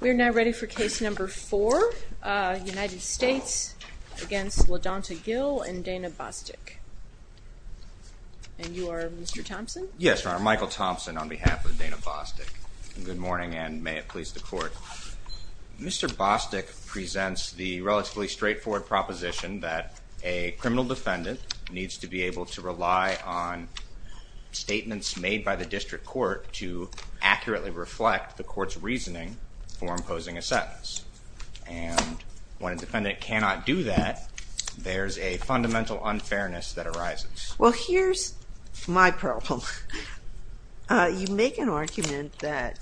We're now ready for case number four, United States against Ladonta Gill and Dana Bostic. And you are Mr. Thompson? Yes, Your Honor, Michael Thompson on behalf of Dana Bostic. Good morning and may it please the court. Mr. Bostic presents the relatively straightforward proposition that a criminal defendant needs to be able to rely on statements made by the district court to accurately reflect the court's reasoning for imposing a sentence. And when a defendant cannot do that, there's a fundamental unfairness that arises. Well, here's my problem. You make an argument that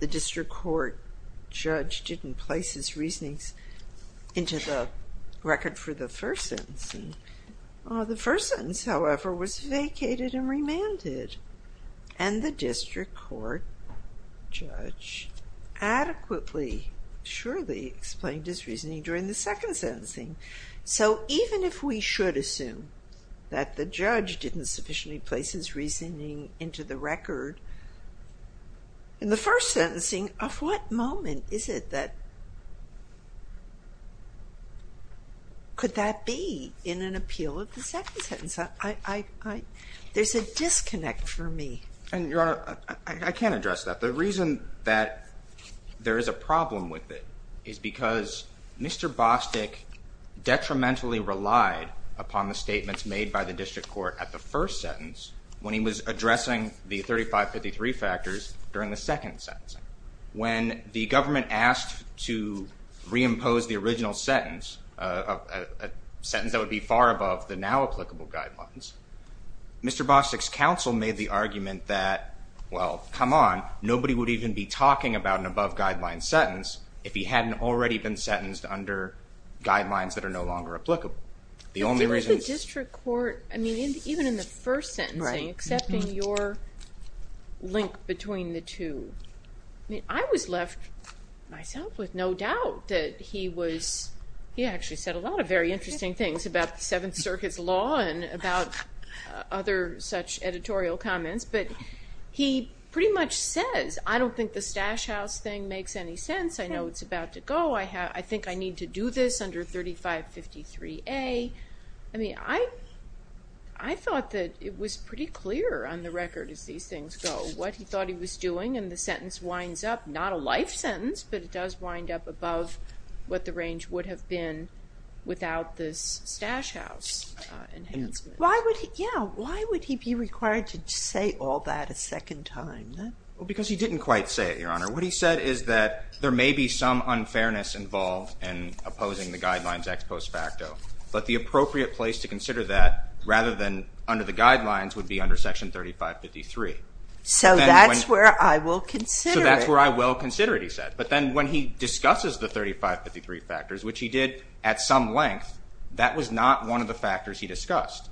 the district court judge didn't place his reasonings into the record for the first sentence, however, was vacated and remanded and the district court judge adequately, surely explained his reasoning during the second sentencing. So even if we should assume that the judge didn't sufficiently place his reasoning into the record in the first sentencing, of what moment is it that could that be in an appeal of the second sentence? There's a disconnect for me. And Your Honor, I can't address that. The reason that there is a problem with it is because Mr. Bostic detrimentally relied upon the statements made by the district court at the first sentence when he was addressing the 3553 factors during the second sentencing. When the government asked to reimpose the original sentence, a sentence that would be far above the now applicable guidelines, Mr. Bostic's counsel made the argument that, well, come on, nobody would even be talking about an above-guideline sentence if he hadn't already been sentenced under guidelines that are no longer applicable. The only reason... I mean, even in the first sentencing, accepting your link between the two, I mean, I was left myself with no doubt that he was, he actually said a lot of very interesting things about the Seventh Circuit's law and about other such editorial comments, but he pretty much says, I don't think the stash house thing makes any sense. I know it's about to go. I have, I think I need to do this under 3553A. I mean, I thought that it was pretty clear on the record as these things go, what he thought he was doing and the sentence winds up, not a life sentence, but it does wind up above what the range would have been without this stash house enhancement. Why would he, yeah, why would he be required to say all that a second time? Well, because he didn't quite say it, Your Honor. What he said is that there may be some unfairness involved in opposing the guidelines ex post facto, but the appropriate place to consider that rather than under the guidelines would be under Section 3553. So that's where I will consider it. But then when he discusses the 3553 factors, which he did at some length, that was not one of the factors he discussed.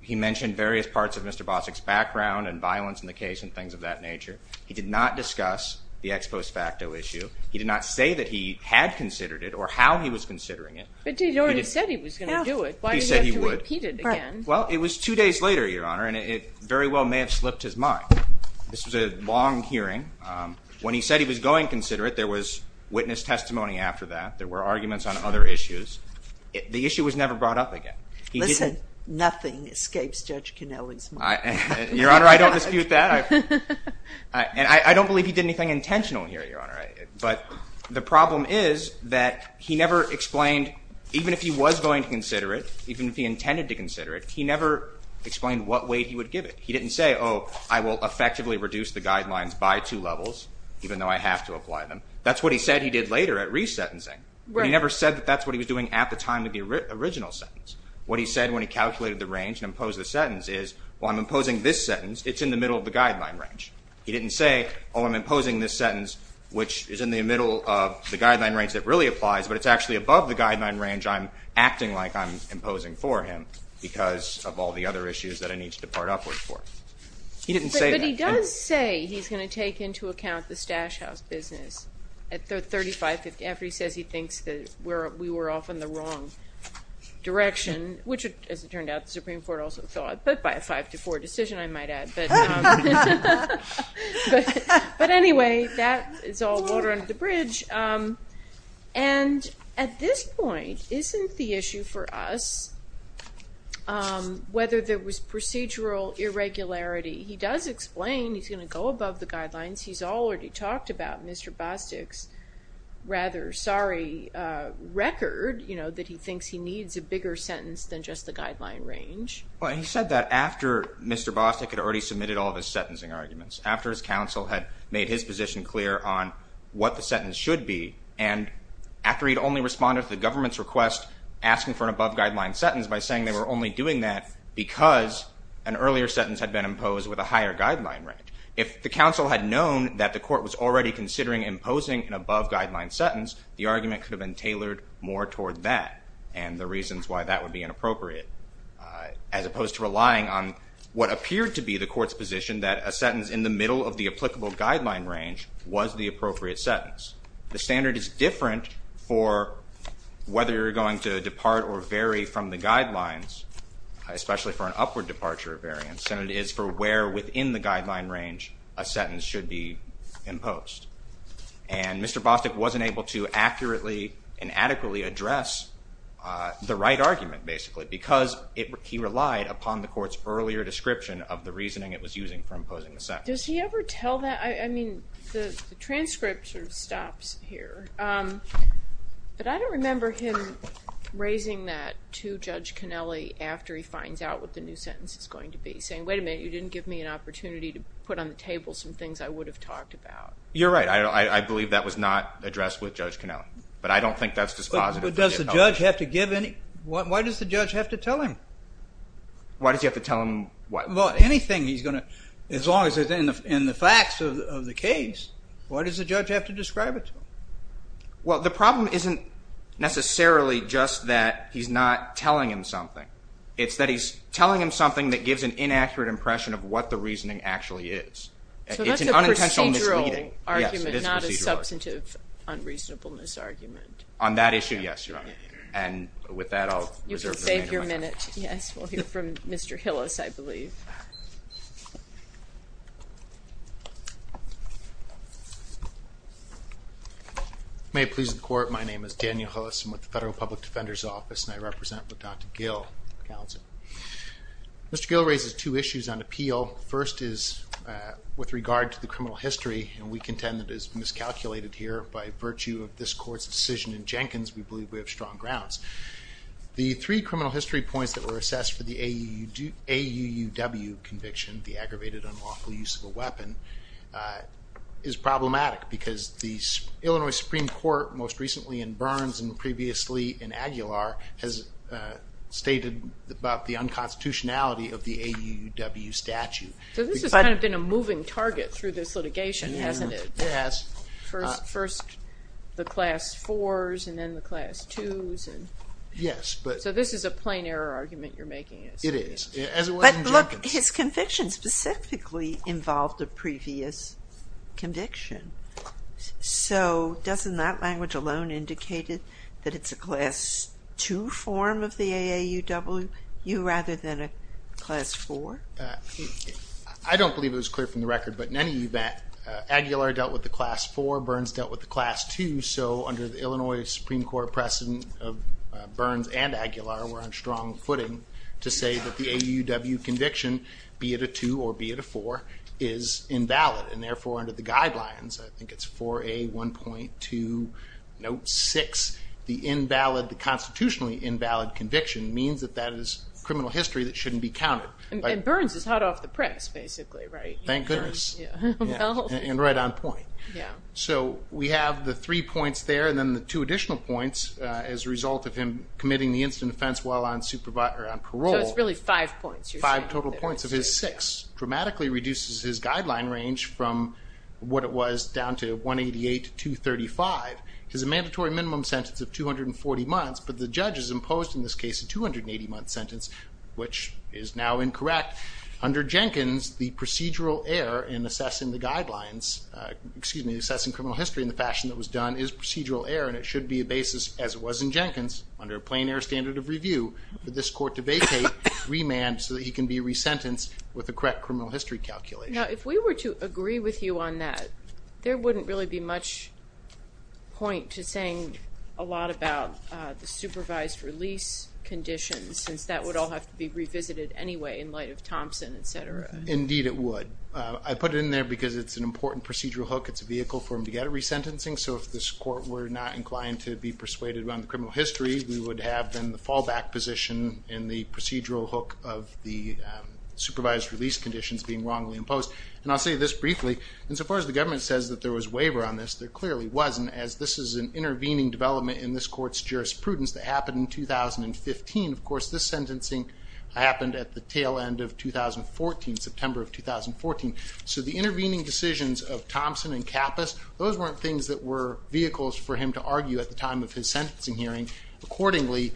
He mentioned various parts of Mr. Bossack's background and violence in the case and things of that nature. He did not discuss the ex post facto issue. He did not say that he had considered it or how he was considering it. But he already said he was going to do it. He said he would. Why did he have to repeat it again? Well, it was two days later, Your Honor, and it very well may have slipped his mind. This was a long hearing. When he said he was going to consider it, there was witness testimony after that. There were arguments on other issues. The issue was never brought up again. Listen, nothing escapes Judge Canelli's mind. Your Honor, I don't dispute that. And I don't believe he did anything intentional here, Your Honor. But the problem is that he never explained, even if he was going to consider it, even if he intended to consider it, he never explained what weight he would give it. He didn't say, oh, I will effectively reduce the guidelines by two levels, even though I have to apply them. That's what he said he did later at re-sentencing. He never said that that's what he was doing at the time of the original sentence. What he said when he calculated the range and imposed the sentence is, well, I'm imposing this sentence. It's in the middle of the guideline range. He didn't say, oh, I'm imposing this sentence, which is in the middle of the guideline range that really applies, but it's actually above the guideline range I'm acting like I'm imposing for him because of all the other issues that I need to depart upward for. He didn't say that. But he does say he's going to take into account the Stash House business at 3550 after he says he thinks that we were off in the wrong direction, which, as it turned out, the Supreme Court also thought, but by a five to four decision, I might add. But anyway, that is all water under the bridge. And at this point, isn't the issue for us whether there was procedural irregularity? He does explain he's going to go above the guidelines. He's already talked about Mr. Bostic's rather sorry record that he thinks he needs a bigger sentence than just the guideline range. Well, he said that after Mr. Bostic had already submitted all of his sentencing arguments, after his counsel had made his position clear on what the sentence should be, and after he'd only responded to the government's request asking for an above guideline sentence by saying they were only doing that because an earlier sentence had been imposed with a higher guideline range. If the counsel had known that the court was already considering imposing an above guideline sentence, the argument could have been tailored more toward that and the reasons why that would be inappropriate, as opposed to relying on what appeared to be the court's position that a sentence in the middle of the applicable guideline range was the appropriate sentence. The standard is different for whether you're going to depart or vary from the guidelines, especially for an upward departure variance. The standard is for where within the guideline range a sentence should be imposed. And Mr. Bostic wasn't able to accurately and adequately address the right argument, basically, because he relied upon the court's earlier description of the reasoning it was using for imposing the sentence. Does he ever tell that? I mean, the transcript sort of stops here. But I don't remember him raising that to Judge Connelly after he finds out what the new sentence is going to be, saying, wait a minute, you didn't give me an opportunity to put on the table some things I would have talked about. You're right. I believe that was not addressed with Judge Connelly, but I don't think that's dispositive. But does the judge have to give any? Why does the judge have to tell him? Why does he have to tell him what? As long as it's in the facts of the case, why does the judge have to describe it to him? Well, the problem isn't necessarily just that he's not telling him something. It's that he's telling him something that gives an inaccurate impression of what the reasoning actually is. So that's a procedural argument, not a substantive unreasonableness argument. On that issue, yes, Your Honor. And with that, I'll reserve the remainder of my time. Thank you very much. Yes, we'll hear from Mr. Hillis, I believe. May it please the Court, my name is Daniel Hillis. I'm with the Federal Public Defender's Office, and I represent with Dr. Gill, counsel. Mr. Gill raises two issues on appeal. First is with regard to the criminal history, and we contend that it is miscalculated here. By virtue of this Court's decision in Jenkins, we believe we have strong grounds. The three criminal history points that were assessed for the AUUW conviction, the aggravated unlawful use of a weapon, is problematic because the Illinois Supreme Court, most recently in Burns and previously in Aguilar, has stated about the unconstitutionality of the AUUW statute. So this has kind of been a moving target through this litigation, hasn't it? Yes. First the class fours and then the class twos. Yes. So this is a plain error argument you're making. It is, as it was in Jenkins. But look, his conviction specifically involved a previous conviction. So doesn't that language alone indicate that it's a class two form of the AAUW, you rather than a class four? I don't believe it was clear from the record, but in any event, Aguilar dealt with the class four, Burns dealt with the class two, so under the Illinois Supreme Court precedent of Burns and Aguilar, we're on strong footing to say that the AUUW conviction, be it a two or be it a four, is invalid. And therefore, under the guidelines, I think it's 4A1.2 Note 6, the invalid, the constitutionally invalid conviction, means that that is criminal history that shouldn't be counted. And Burns is hot off the press, basically, right? Thank goodness. And right on point. So we have the three points there and then the two additional points as a result of him committing the incident of offense while on parole. So it's really five points. Five total points of his six. Dramatically reduces his guideline range from what it was down to 188 to 235. It's a mandatory minimum sentence of 240 months, but the judge has imposed in this case a 280-month sentence, which is now incorrect. But under Jenkins, the procedural error in assessing the guidelines, excuse me, assessing criminal history in the fashion that was done is procedural error and it should be a basis, as it was in Jenkins, under a plain error standard of review, for this court to vacate, remand, so that he can be resentenced with the correct criminal history calculation. Now, if we were to agree with you on that, there wouldn't really be much point to saying a lot about the supervised release conditions, since that would all have to be revisited anyway in light of Thompson, et cetera. Indeed it would. I put it in there because it's an important procedural hook. It's a vehicle for him to get a resentencing. So if this court were not inclined to be persuaded around the criminal history, we would have then the fallback position in the procedural hook of the supervised release conditions being wrongly imposed. And I'll say this briefly, insofar as the government says that there was waiver on this, there clearly wasn't, as this is an intervening development in this court's jurisprudence that happened in 2015. Of course, this sentencing happened at the tail end of 2014, September of 2014. So the intervening decisions of Thompson and Kappus, those weren't things that were vehicles for him to argue at the time of his sentencing hearing. Accordingly,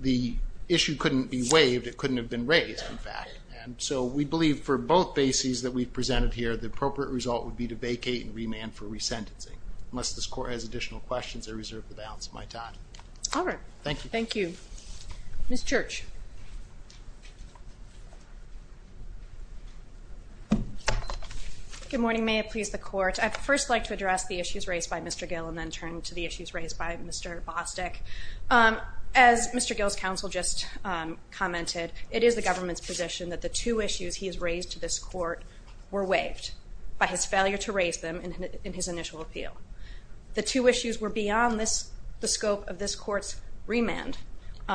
the issue couldn't be waived. It couldn't have been raised, in fact. And so we believe for both bases that we've presented here, the appropriate result would be to vacate and remand for resentencing. Unless this court has additional questions, I reserve the balance of my time. All right. Thank you. Thank you. Ms. Church. Good morning. May it please the court. I'd first like to address the issues raised by Mr. Gill, and then turn to the issues raised by Mr. Bostic. As Mr. Gill's counsel just commented, it is the government's position that the two issues he has raised to this court were waived by his failure to raise them in his initial appeal. The two issues were beyond the scope of this court's remand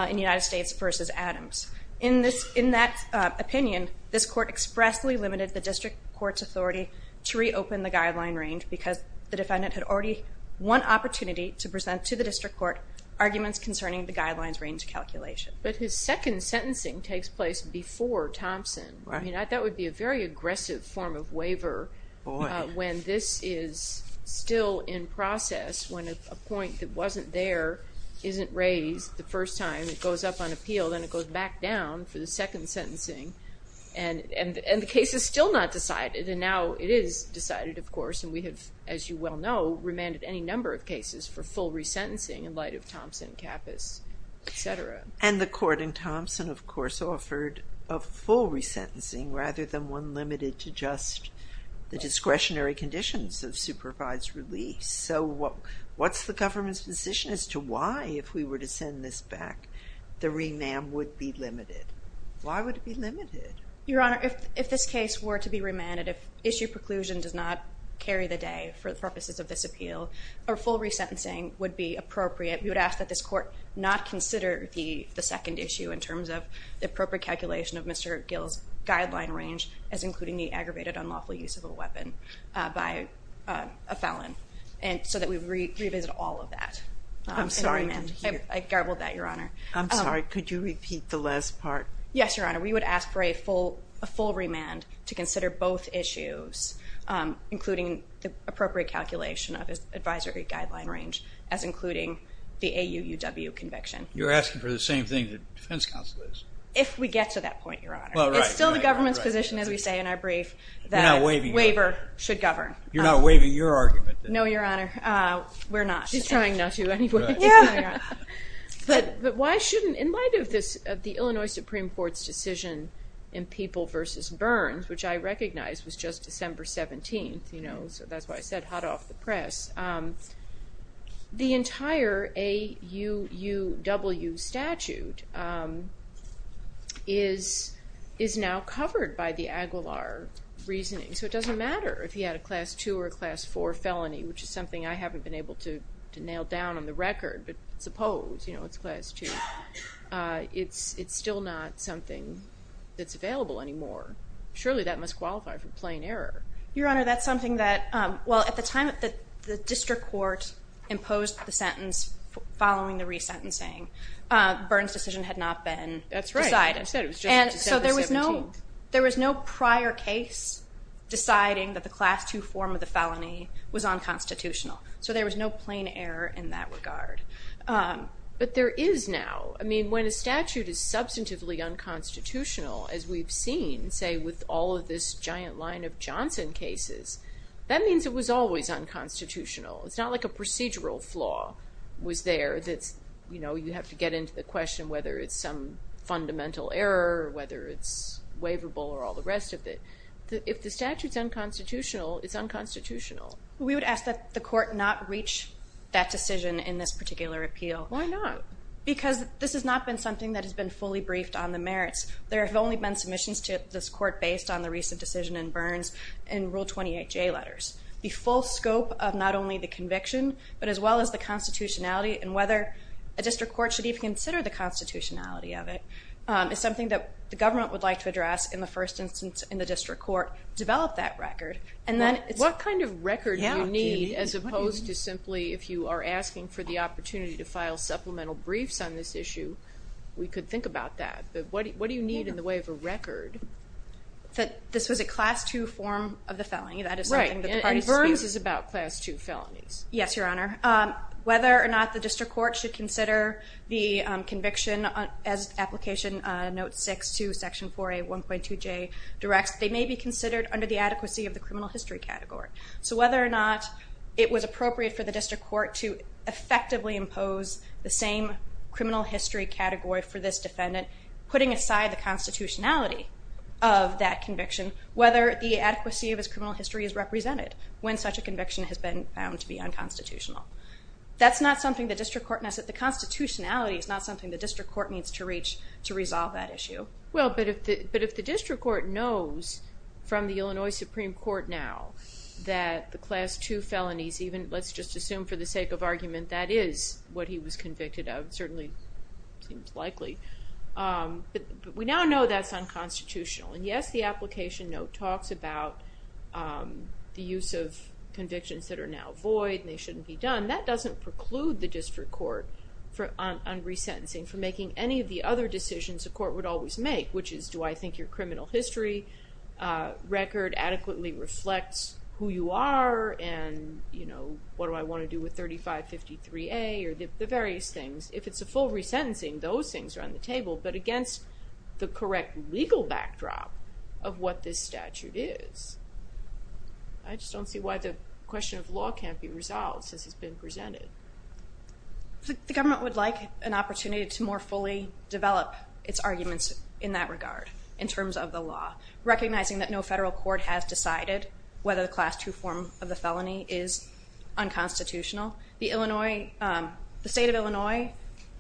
in United States v. Adams. In that opinion, this court expressly limited the district court's authority to reopen the guideline range because the defendant had already won opportunity to present to the district court arguments concerning the guidelines range calculation. But his second sentencing takes place before Thompson. Right. I mean, that would be a very aggressive form of waiver when this is still in process, when a point that wasn't there isn't raised. The first time it goes up on appeal, then it goes back down for the second sentencing. And the case is still not decided. And now it is decided, of course. And we have, as you well know, remanded any number of cases for full resentencing in light of Thompson, Kappus, et cetera. And the court in Thompson, of course, offered a full resentencing rather than one limited to just the discretionary conditions of supervised release. So what's the government's position as to why, if we were to send this back, the remand would be limited? Why would it be limited? Your Honor, if this case were to be remanded, if issue preclusion does not carry the day for the purposes of this appeal, a full resentencing would be appropriate. We would ask that this court not consider the second issue in terms of the appropriate calculation of Mr. Gill's guideline range as including the aggravated unlawful use of a weapon by a felon so that we revisit all of that. I'm sorry. I garbled that, Your Honor. I'm sorry. Could you repeat the last part? Yes, Your Honor. We would ask for a full remand to consider both issues, including the appropriate calculation of his advisory guideline range as including the AUUW conviction. You're asking for the same thing the defense counsel is. If we get to that point, Your Honor. It's still the government's position, as we say in our brief, that a waiver should govern. You're not waiving your argument. No, Your Honor. We're not. She's trying not to anyway. But why shouldn't, in light of this, the Illinois Supreme Court's decision in People v. Burns, which I recognize was just December 17th, so that's why I said hot off the press, the entire AUUW statute is now covered by the Aguilar reasoning. So it doesn't matter if he had a Class 2 or a Class 4 felony, which is something I haven't been able to nail down on the record, but suppose it's Class 2. It's still not something that's available anymore. Surely that must qualify for plain error. Your Honor, that's something that, well, at the time that the district court imposed the sentence following the resentencing, Burns' decision had not been decided. That's right. I said it was just December 17th. And so there was no prior case deciding that the Class 2 form of the felony was unconstitutional. So there was no plain error in that regard. But there is now. I mean, when a statute is substantively unconstitutional, as we've seen, say, with all of this giant line of Johnson cases, that means it was always unconstitutional. It's not like a procedural flaw was there that, you know, you have to get into the question whether it's some fundamental error or whether it's waivable or all the rest of it. If the statute's unconstitutional, it's unconstitutional. We would ask that the court not reach that decision in this particular appeal. Why not? Because this has not been something that has been fully briefed on the merits. There have only been submissions to this court based on the recent decision in Burns and Rule 28J letters. The full scope of not only the conviction, but as well as the constitutionality and whether a district court should even consider the constitutionality of it is something that the government would like to address in the first instance in the district court, develop that record. What kind of record do you need as opposed to simply if you are asking for the opportunity to file supplemental briefs on this issue, But what do you need in the way of a record? That this was a class two form of the felony. Right. And Burns is about class two felonies. Yes, Your Honor. Whether or not the district court should consider the conviction as application note six to section 4A 1.2J directs, they may be considered under the adequacy of the criminal history category. So whether or not it was appropriate for the district court to effectively impose the same criminal history category for this defendant, putting aside the constitutionality of that conviction, whether the adequacy of his criminal history is represented when such a conviction has been found to be unconstitutional. That's not something the district court, the constitutionality is not something the district court needs to reach to resolve that issue. Well, but if the district court knows from the Illinois Supreme Court now that the class two felonies, even let's just assume for the sake of argument that is what he was convicted of, certainly seems likely. But we now know that's unconstitutional. And yes, the application note talks about the use of convictions that are now void and they shouldn't be done. That doesn't preclude the district court on resentencing from making any of the other decisions the court would always make, which is do I think your criminal history record adequately reflects who you are and, you know, what do I want to do with 3553A or the various things. If it's a full resentencing, those things are on the table, but against the correct legal backdrop of what this statute is. I just don't see why the question of law can't be resolved since it's been presented. The government would like an opportunity to more fully develop its arguments in that regard, in terms of the law, recognizing that no federal court has decided whether the class two form of the felony is unconstitutional. The Illinois, the state of Illinois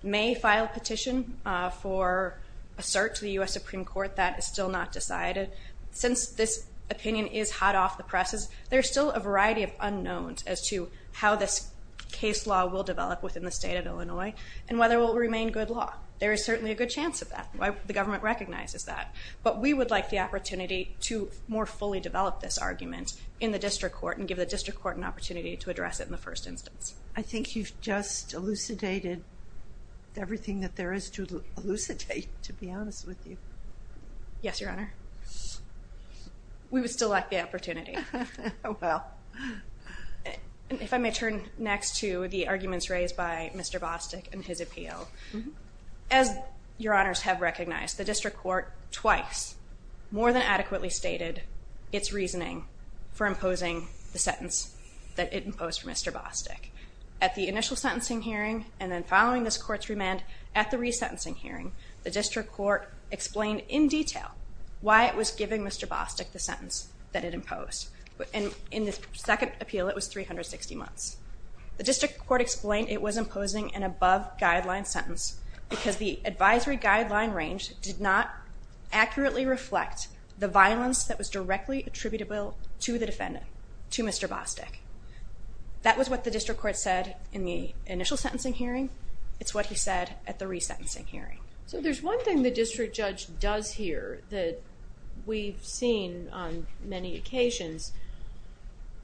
may file a petition for a search to the US Supreme Court that is still not decided. Since this opinion is hot off the presses, there's still a variety of unknowns as to how this case law will develop within the state of Illinois and whether it will remain good law. There is certainly a good chance of that. The government recognizes that, but we would like the opportunity to more fully develop this argument in the district court and give the district court an opportunity to address it in the first instance. I think you've just elucidated everything that there is to elucidate, to be honest with you. Yes, Your Honor. We would still like the opportunity. Oh, well. If I may turn next to the arguments raised by Mr. Bostic and his appeal. As Your Honors have recognized, the district court twice more than adequately stated its reasoning for imposing the sentence that it imposed for Mr. Bostic. At the initial sentencing hearing and then following this court's remand at the resentencing hearing, the district court explained in detail why it was giving Mr. Bostic the sentence that it imposed. In the second appeal, it was 360 months. The district court explained it was imposing an above guideline sentence because the advisory guideline range did not accurately reflect the violence that was directly attributable to the defendant, to Mr. Bostic. That was what the district court said in the initial sentencing hearing. It's what he said at the resentencing hearing. So there's one thing the district judge does here that we've seen on many occasions,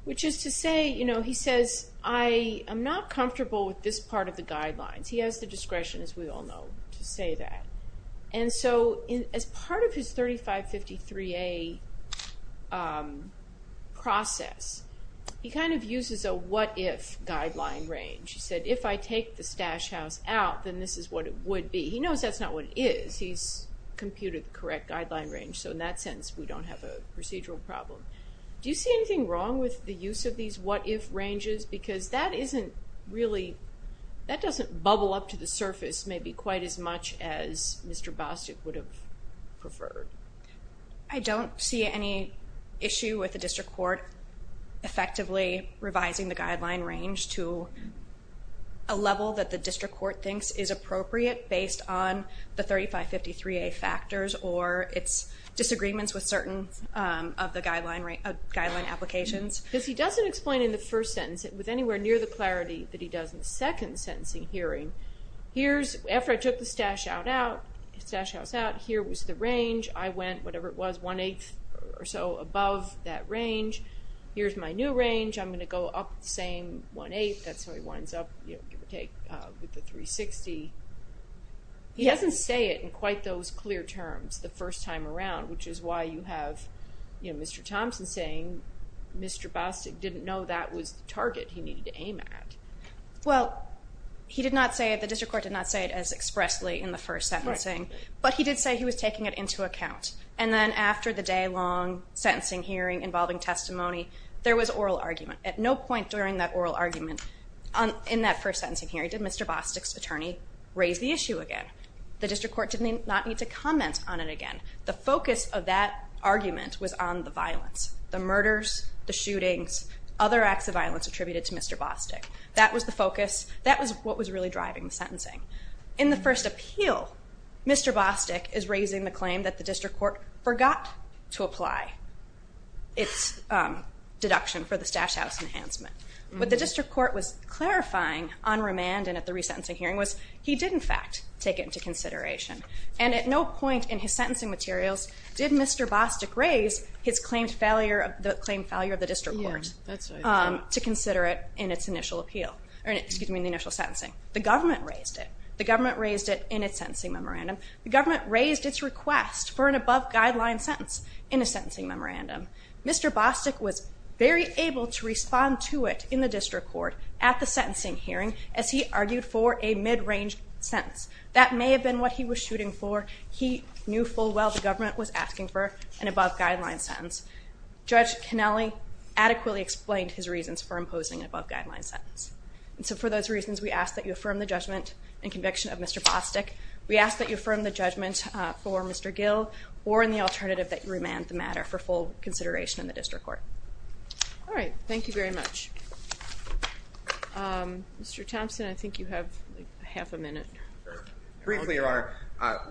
which is to say, you know, he says, I am not comfortable with this part of the guidelines. He has the discretion, as we all know, to say that. And so as part of his 3553A process, he kind of uses a what-if guideline range. He said, if I take the stash house out, then this is what it would be. He knows that's not what it is. He's computed the correct guideline range. So in that sense, we don't have a procedural problem. Do you see anything wrong with the use of these what-if ranges? Because that isn't really, that doesn't bubble up to the surface maybe quite as much as Mr. Bostic would have preferred. I don't see any issue with the district court effectively revising the guideline range to a level that the district court thinks is appropriate based on the 3553A factors or its disagreements with certain of the guideline applications. Because he doesn't explain in the first sentence with anywhere near the clarity that he does in the second sentencing hearing, here's, after I took the stash house out, here was the range. I went, whatever it was, one-eighth or so above that range. Here's my new range. I'm going to go up the same one-eighth. That's how he winds up, give or take, with the 360. He doesn't say it in quite those clear terms the first time around, which is why you have Mr. Thompson saying Mr. Bostic didn't know that was the target he needed to aim at. Well, he did not say it, the district court did not say it as expressly in the first sentencing, but he did say he was taking it into account. And then after the day-long sentencing hearing involving testimony, there was oral argument. At no point during that oral argument in that first sentencing hearing did Mr. Bostic's attorney raise the issue again. The district court did not need to comment on it again. The focus of that argument was on the violence, the murders, the shootings, other acts of violence attributed to Mr. Bostic. That was the focus. That was what was really driving the sentencing. In the first appeal, Mr. Bostic is raising the claim that the district court forgot to apply. It's deduction for the stash house enhancement. What the district court was clarifying on remand and at the resentencing hearing was he did, in fact, take it into consideration. And at no point in his sentencing materials did Mr. Bostic raise his claimed failure of the district court to consider it in its initial appeal, excuse me, in the initial sentencing. The government raised it. The government raised it in its sentencing memorandum. The government raised its request for an above-guideline sentence in a sentencing memorandum. Mr. Bostic was very able to respond to it in the district court at the sentencing hearing as he argued for a mid-range sentence. That may have been what he was shooting for. He knew full well the government was asking for an above-guideline sentence. Judge Cannelli adequately explained his reasons for imposing an above-guideline sentence. And so for those reasons, we ask that you affirm the judgment and conviction of Mr. Bostic. We ask that you affirm the judgment for Mr. Gill or in the alternative that you remand the matter for full consideration in the district court. All right, thank you very much. Mr. Thompson, I think you have half a minute. Briefly,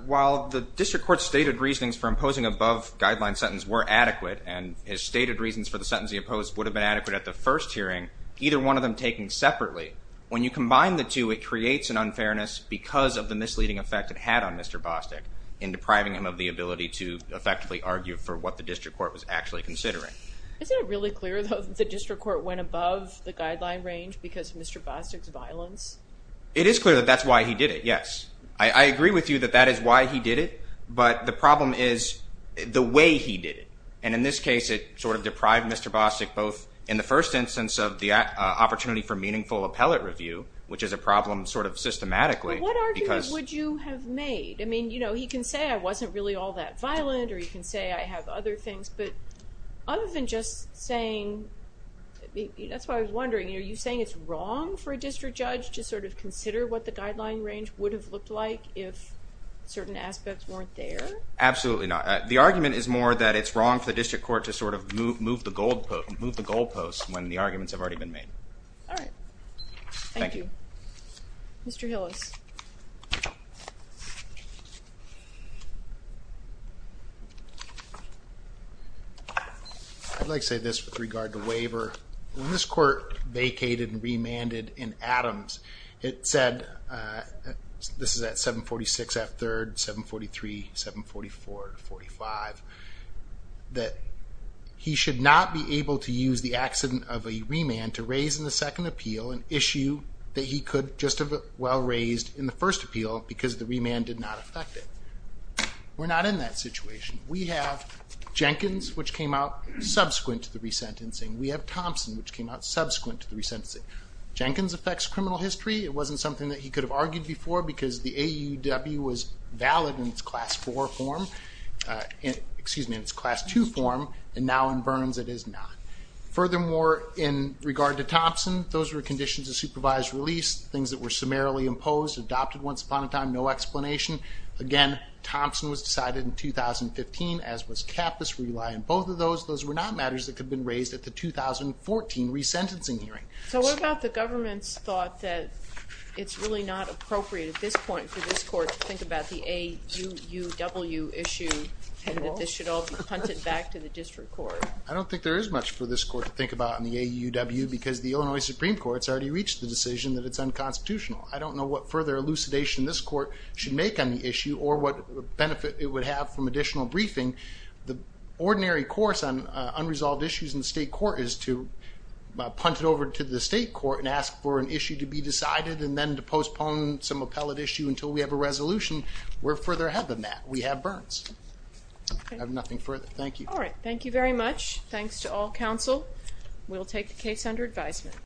while the district court's stated reasonings for imposing an above-guideline sentence were adequate and his stated reasons for the sentence he opposed would have been adequate at the first hearing, either one of them taken separately, when you combine the two, it creates an unfairness because of the misleading effect it had on Mr. Bostic in depriving him of the ability to effectively argue for what the district court was actually considering. Isn't it really clear, though, that the district court went above the guideline range because of Mr. Bostic's violence? It is clear that that's why he did it, yes. I agree with you that that is why he did it, but the problem is the way he did it. And in this case, it sort of deprived Mr. Bostic both in the first instance of the opportunity for meaningful appellate review, which is a problem sort of systematically. Well, what argument would you have made? I mean, you know, he can say I wasn't really all that violent or he can say I have other things, but other than just saying, that's why I was wondering, are you saying it's wrong for a district judge to sort of consider what the guideline range would have looked like if certain aspects weren't there? Absolutely not. The argument is more that it's wrong for the district court to sort of move the goalposts when the arguments have already been made. All right. Thank you. Mr. Hillis. I'd like to say this with regard to waiver. When this court vacated and remanded in Adams, it said, this is at 746 F. 3rd, 743, 744, 45, that he should not be able to use the accident of a remand to raise in the second appeal an issue that he could just as well raise in the first appeal because the remand did not affect it. We're not in that situation. We have Jenkins, which came out subsequent to the resentencing. We have Thompson, which came out subsequent to the resentencing. Jenkins affects criminal history. It wasn't something that he could have argued before because the AUW was valid in its class four form, excuse me, in its class two form, and now in Burns it is not. Furthermore, in regard to Thompson, those were conditions of supervised release, things that were summarily imposed, adopted once upon a time, no explanation. Again, Thompson was decided in 2015, as was Kappus. We rely on both of those. Those were not matters that could have been raised at the 2014 resentencing hearing. So what about the government's thought that it's really not appropriate at this point for this court to think about the AUW issue and that this should all be punted back to the district court? I don't think there is much for this court to think about on the AUW because the Illinois Supreme Court has already reached the decision that it's unconstitutional. I don't know what further elucidation this court should make on the issue or what benefit it would have from additional briefing. The ordinary course on unresolved issues in the state court is to punt it over to the state court and ask for an issue to be decided and then to postpone some appellate issue until we have a resolution. We're further ahead than that. We have Burns. I have nothing further. Thank you. All right. Thank you very much. Thanks to all counsel. We'll take the case under advisement.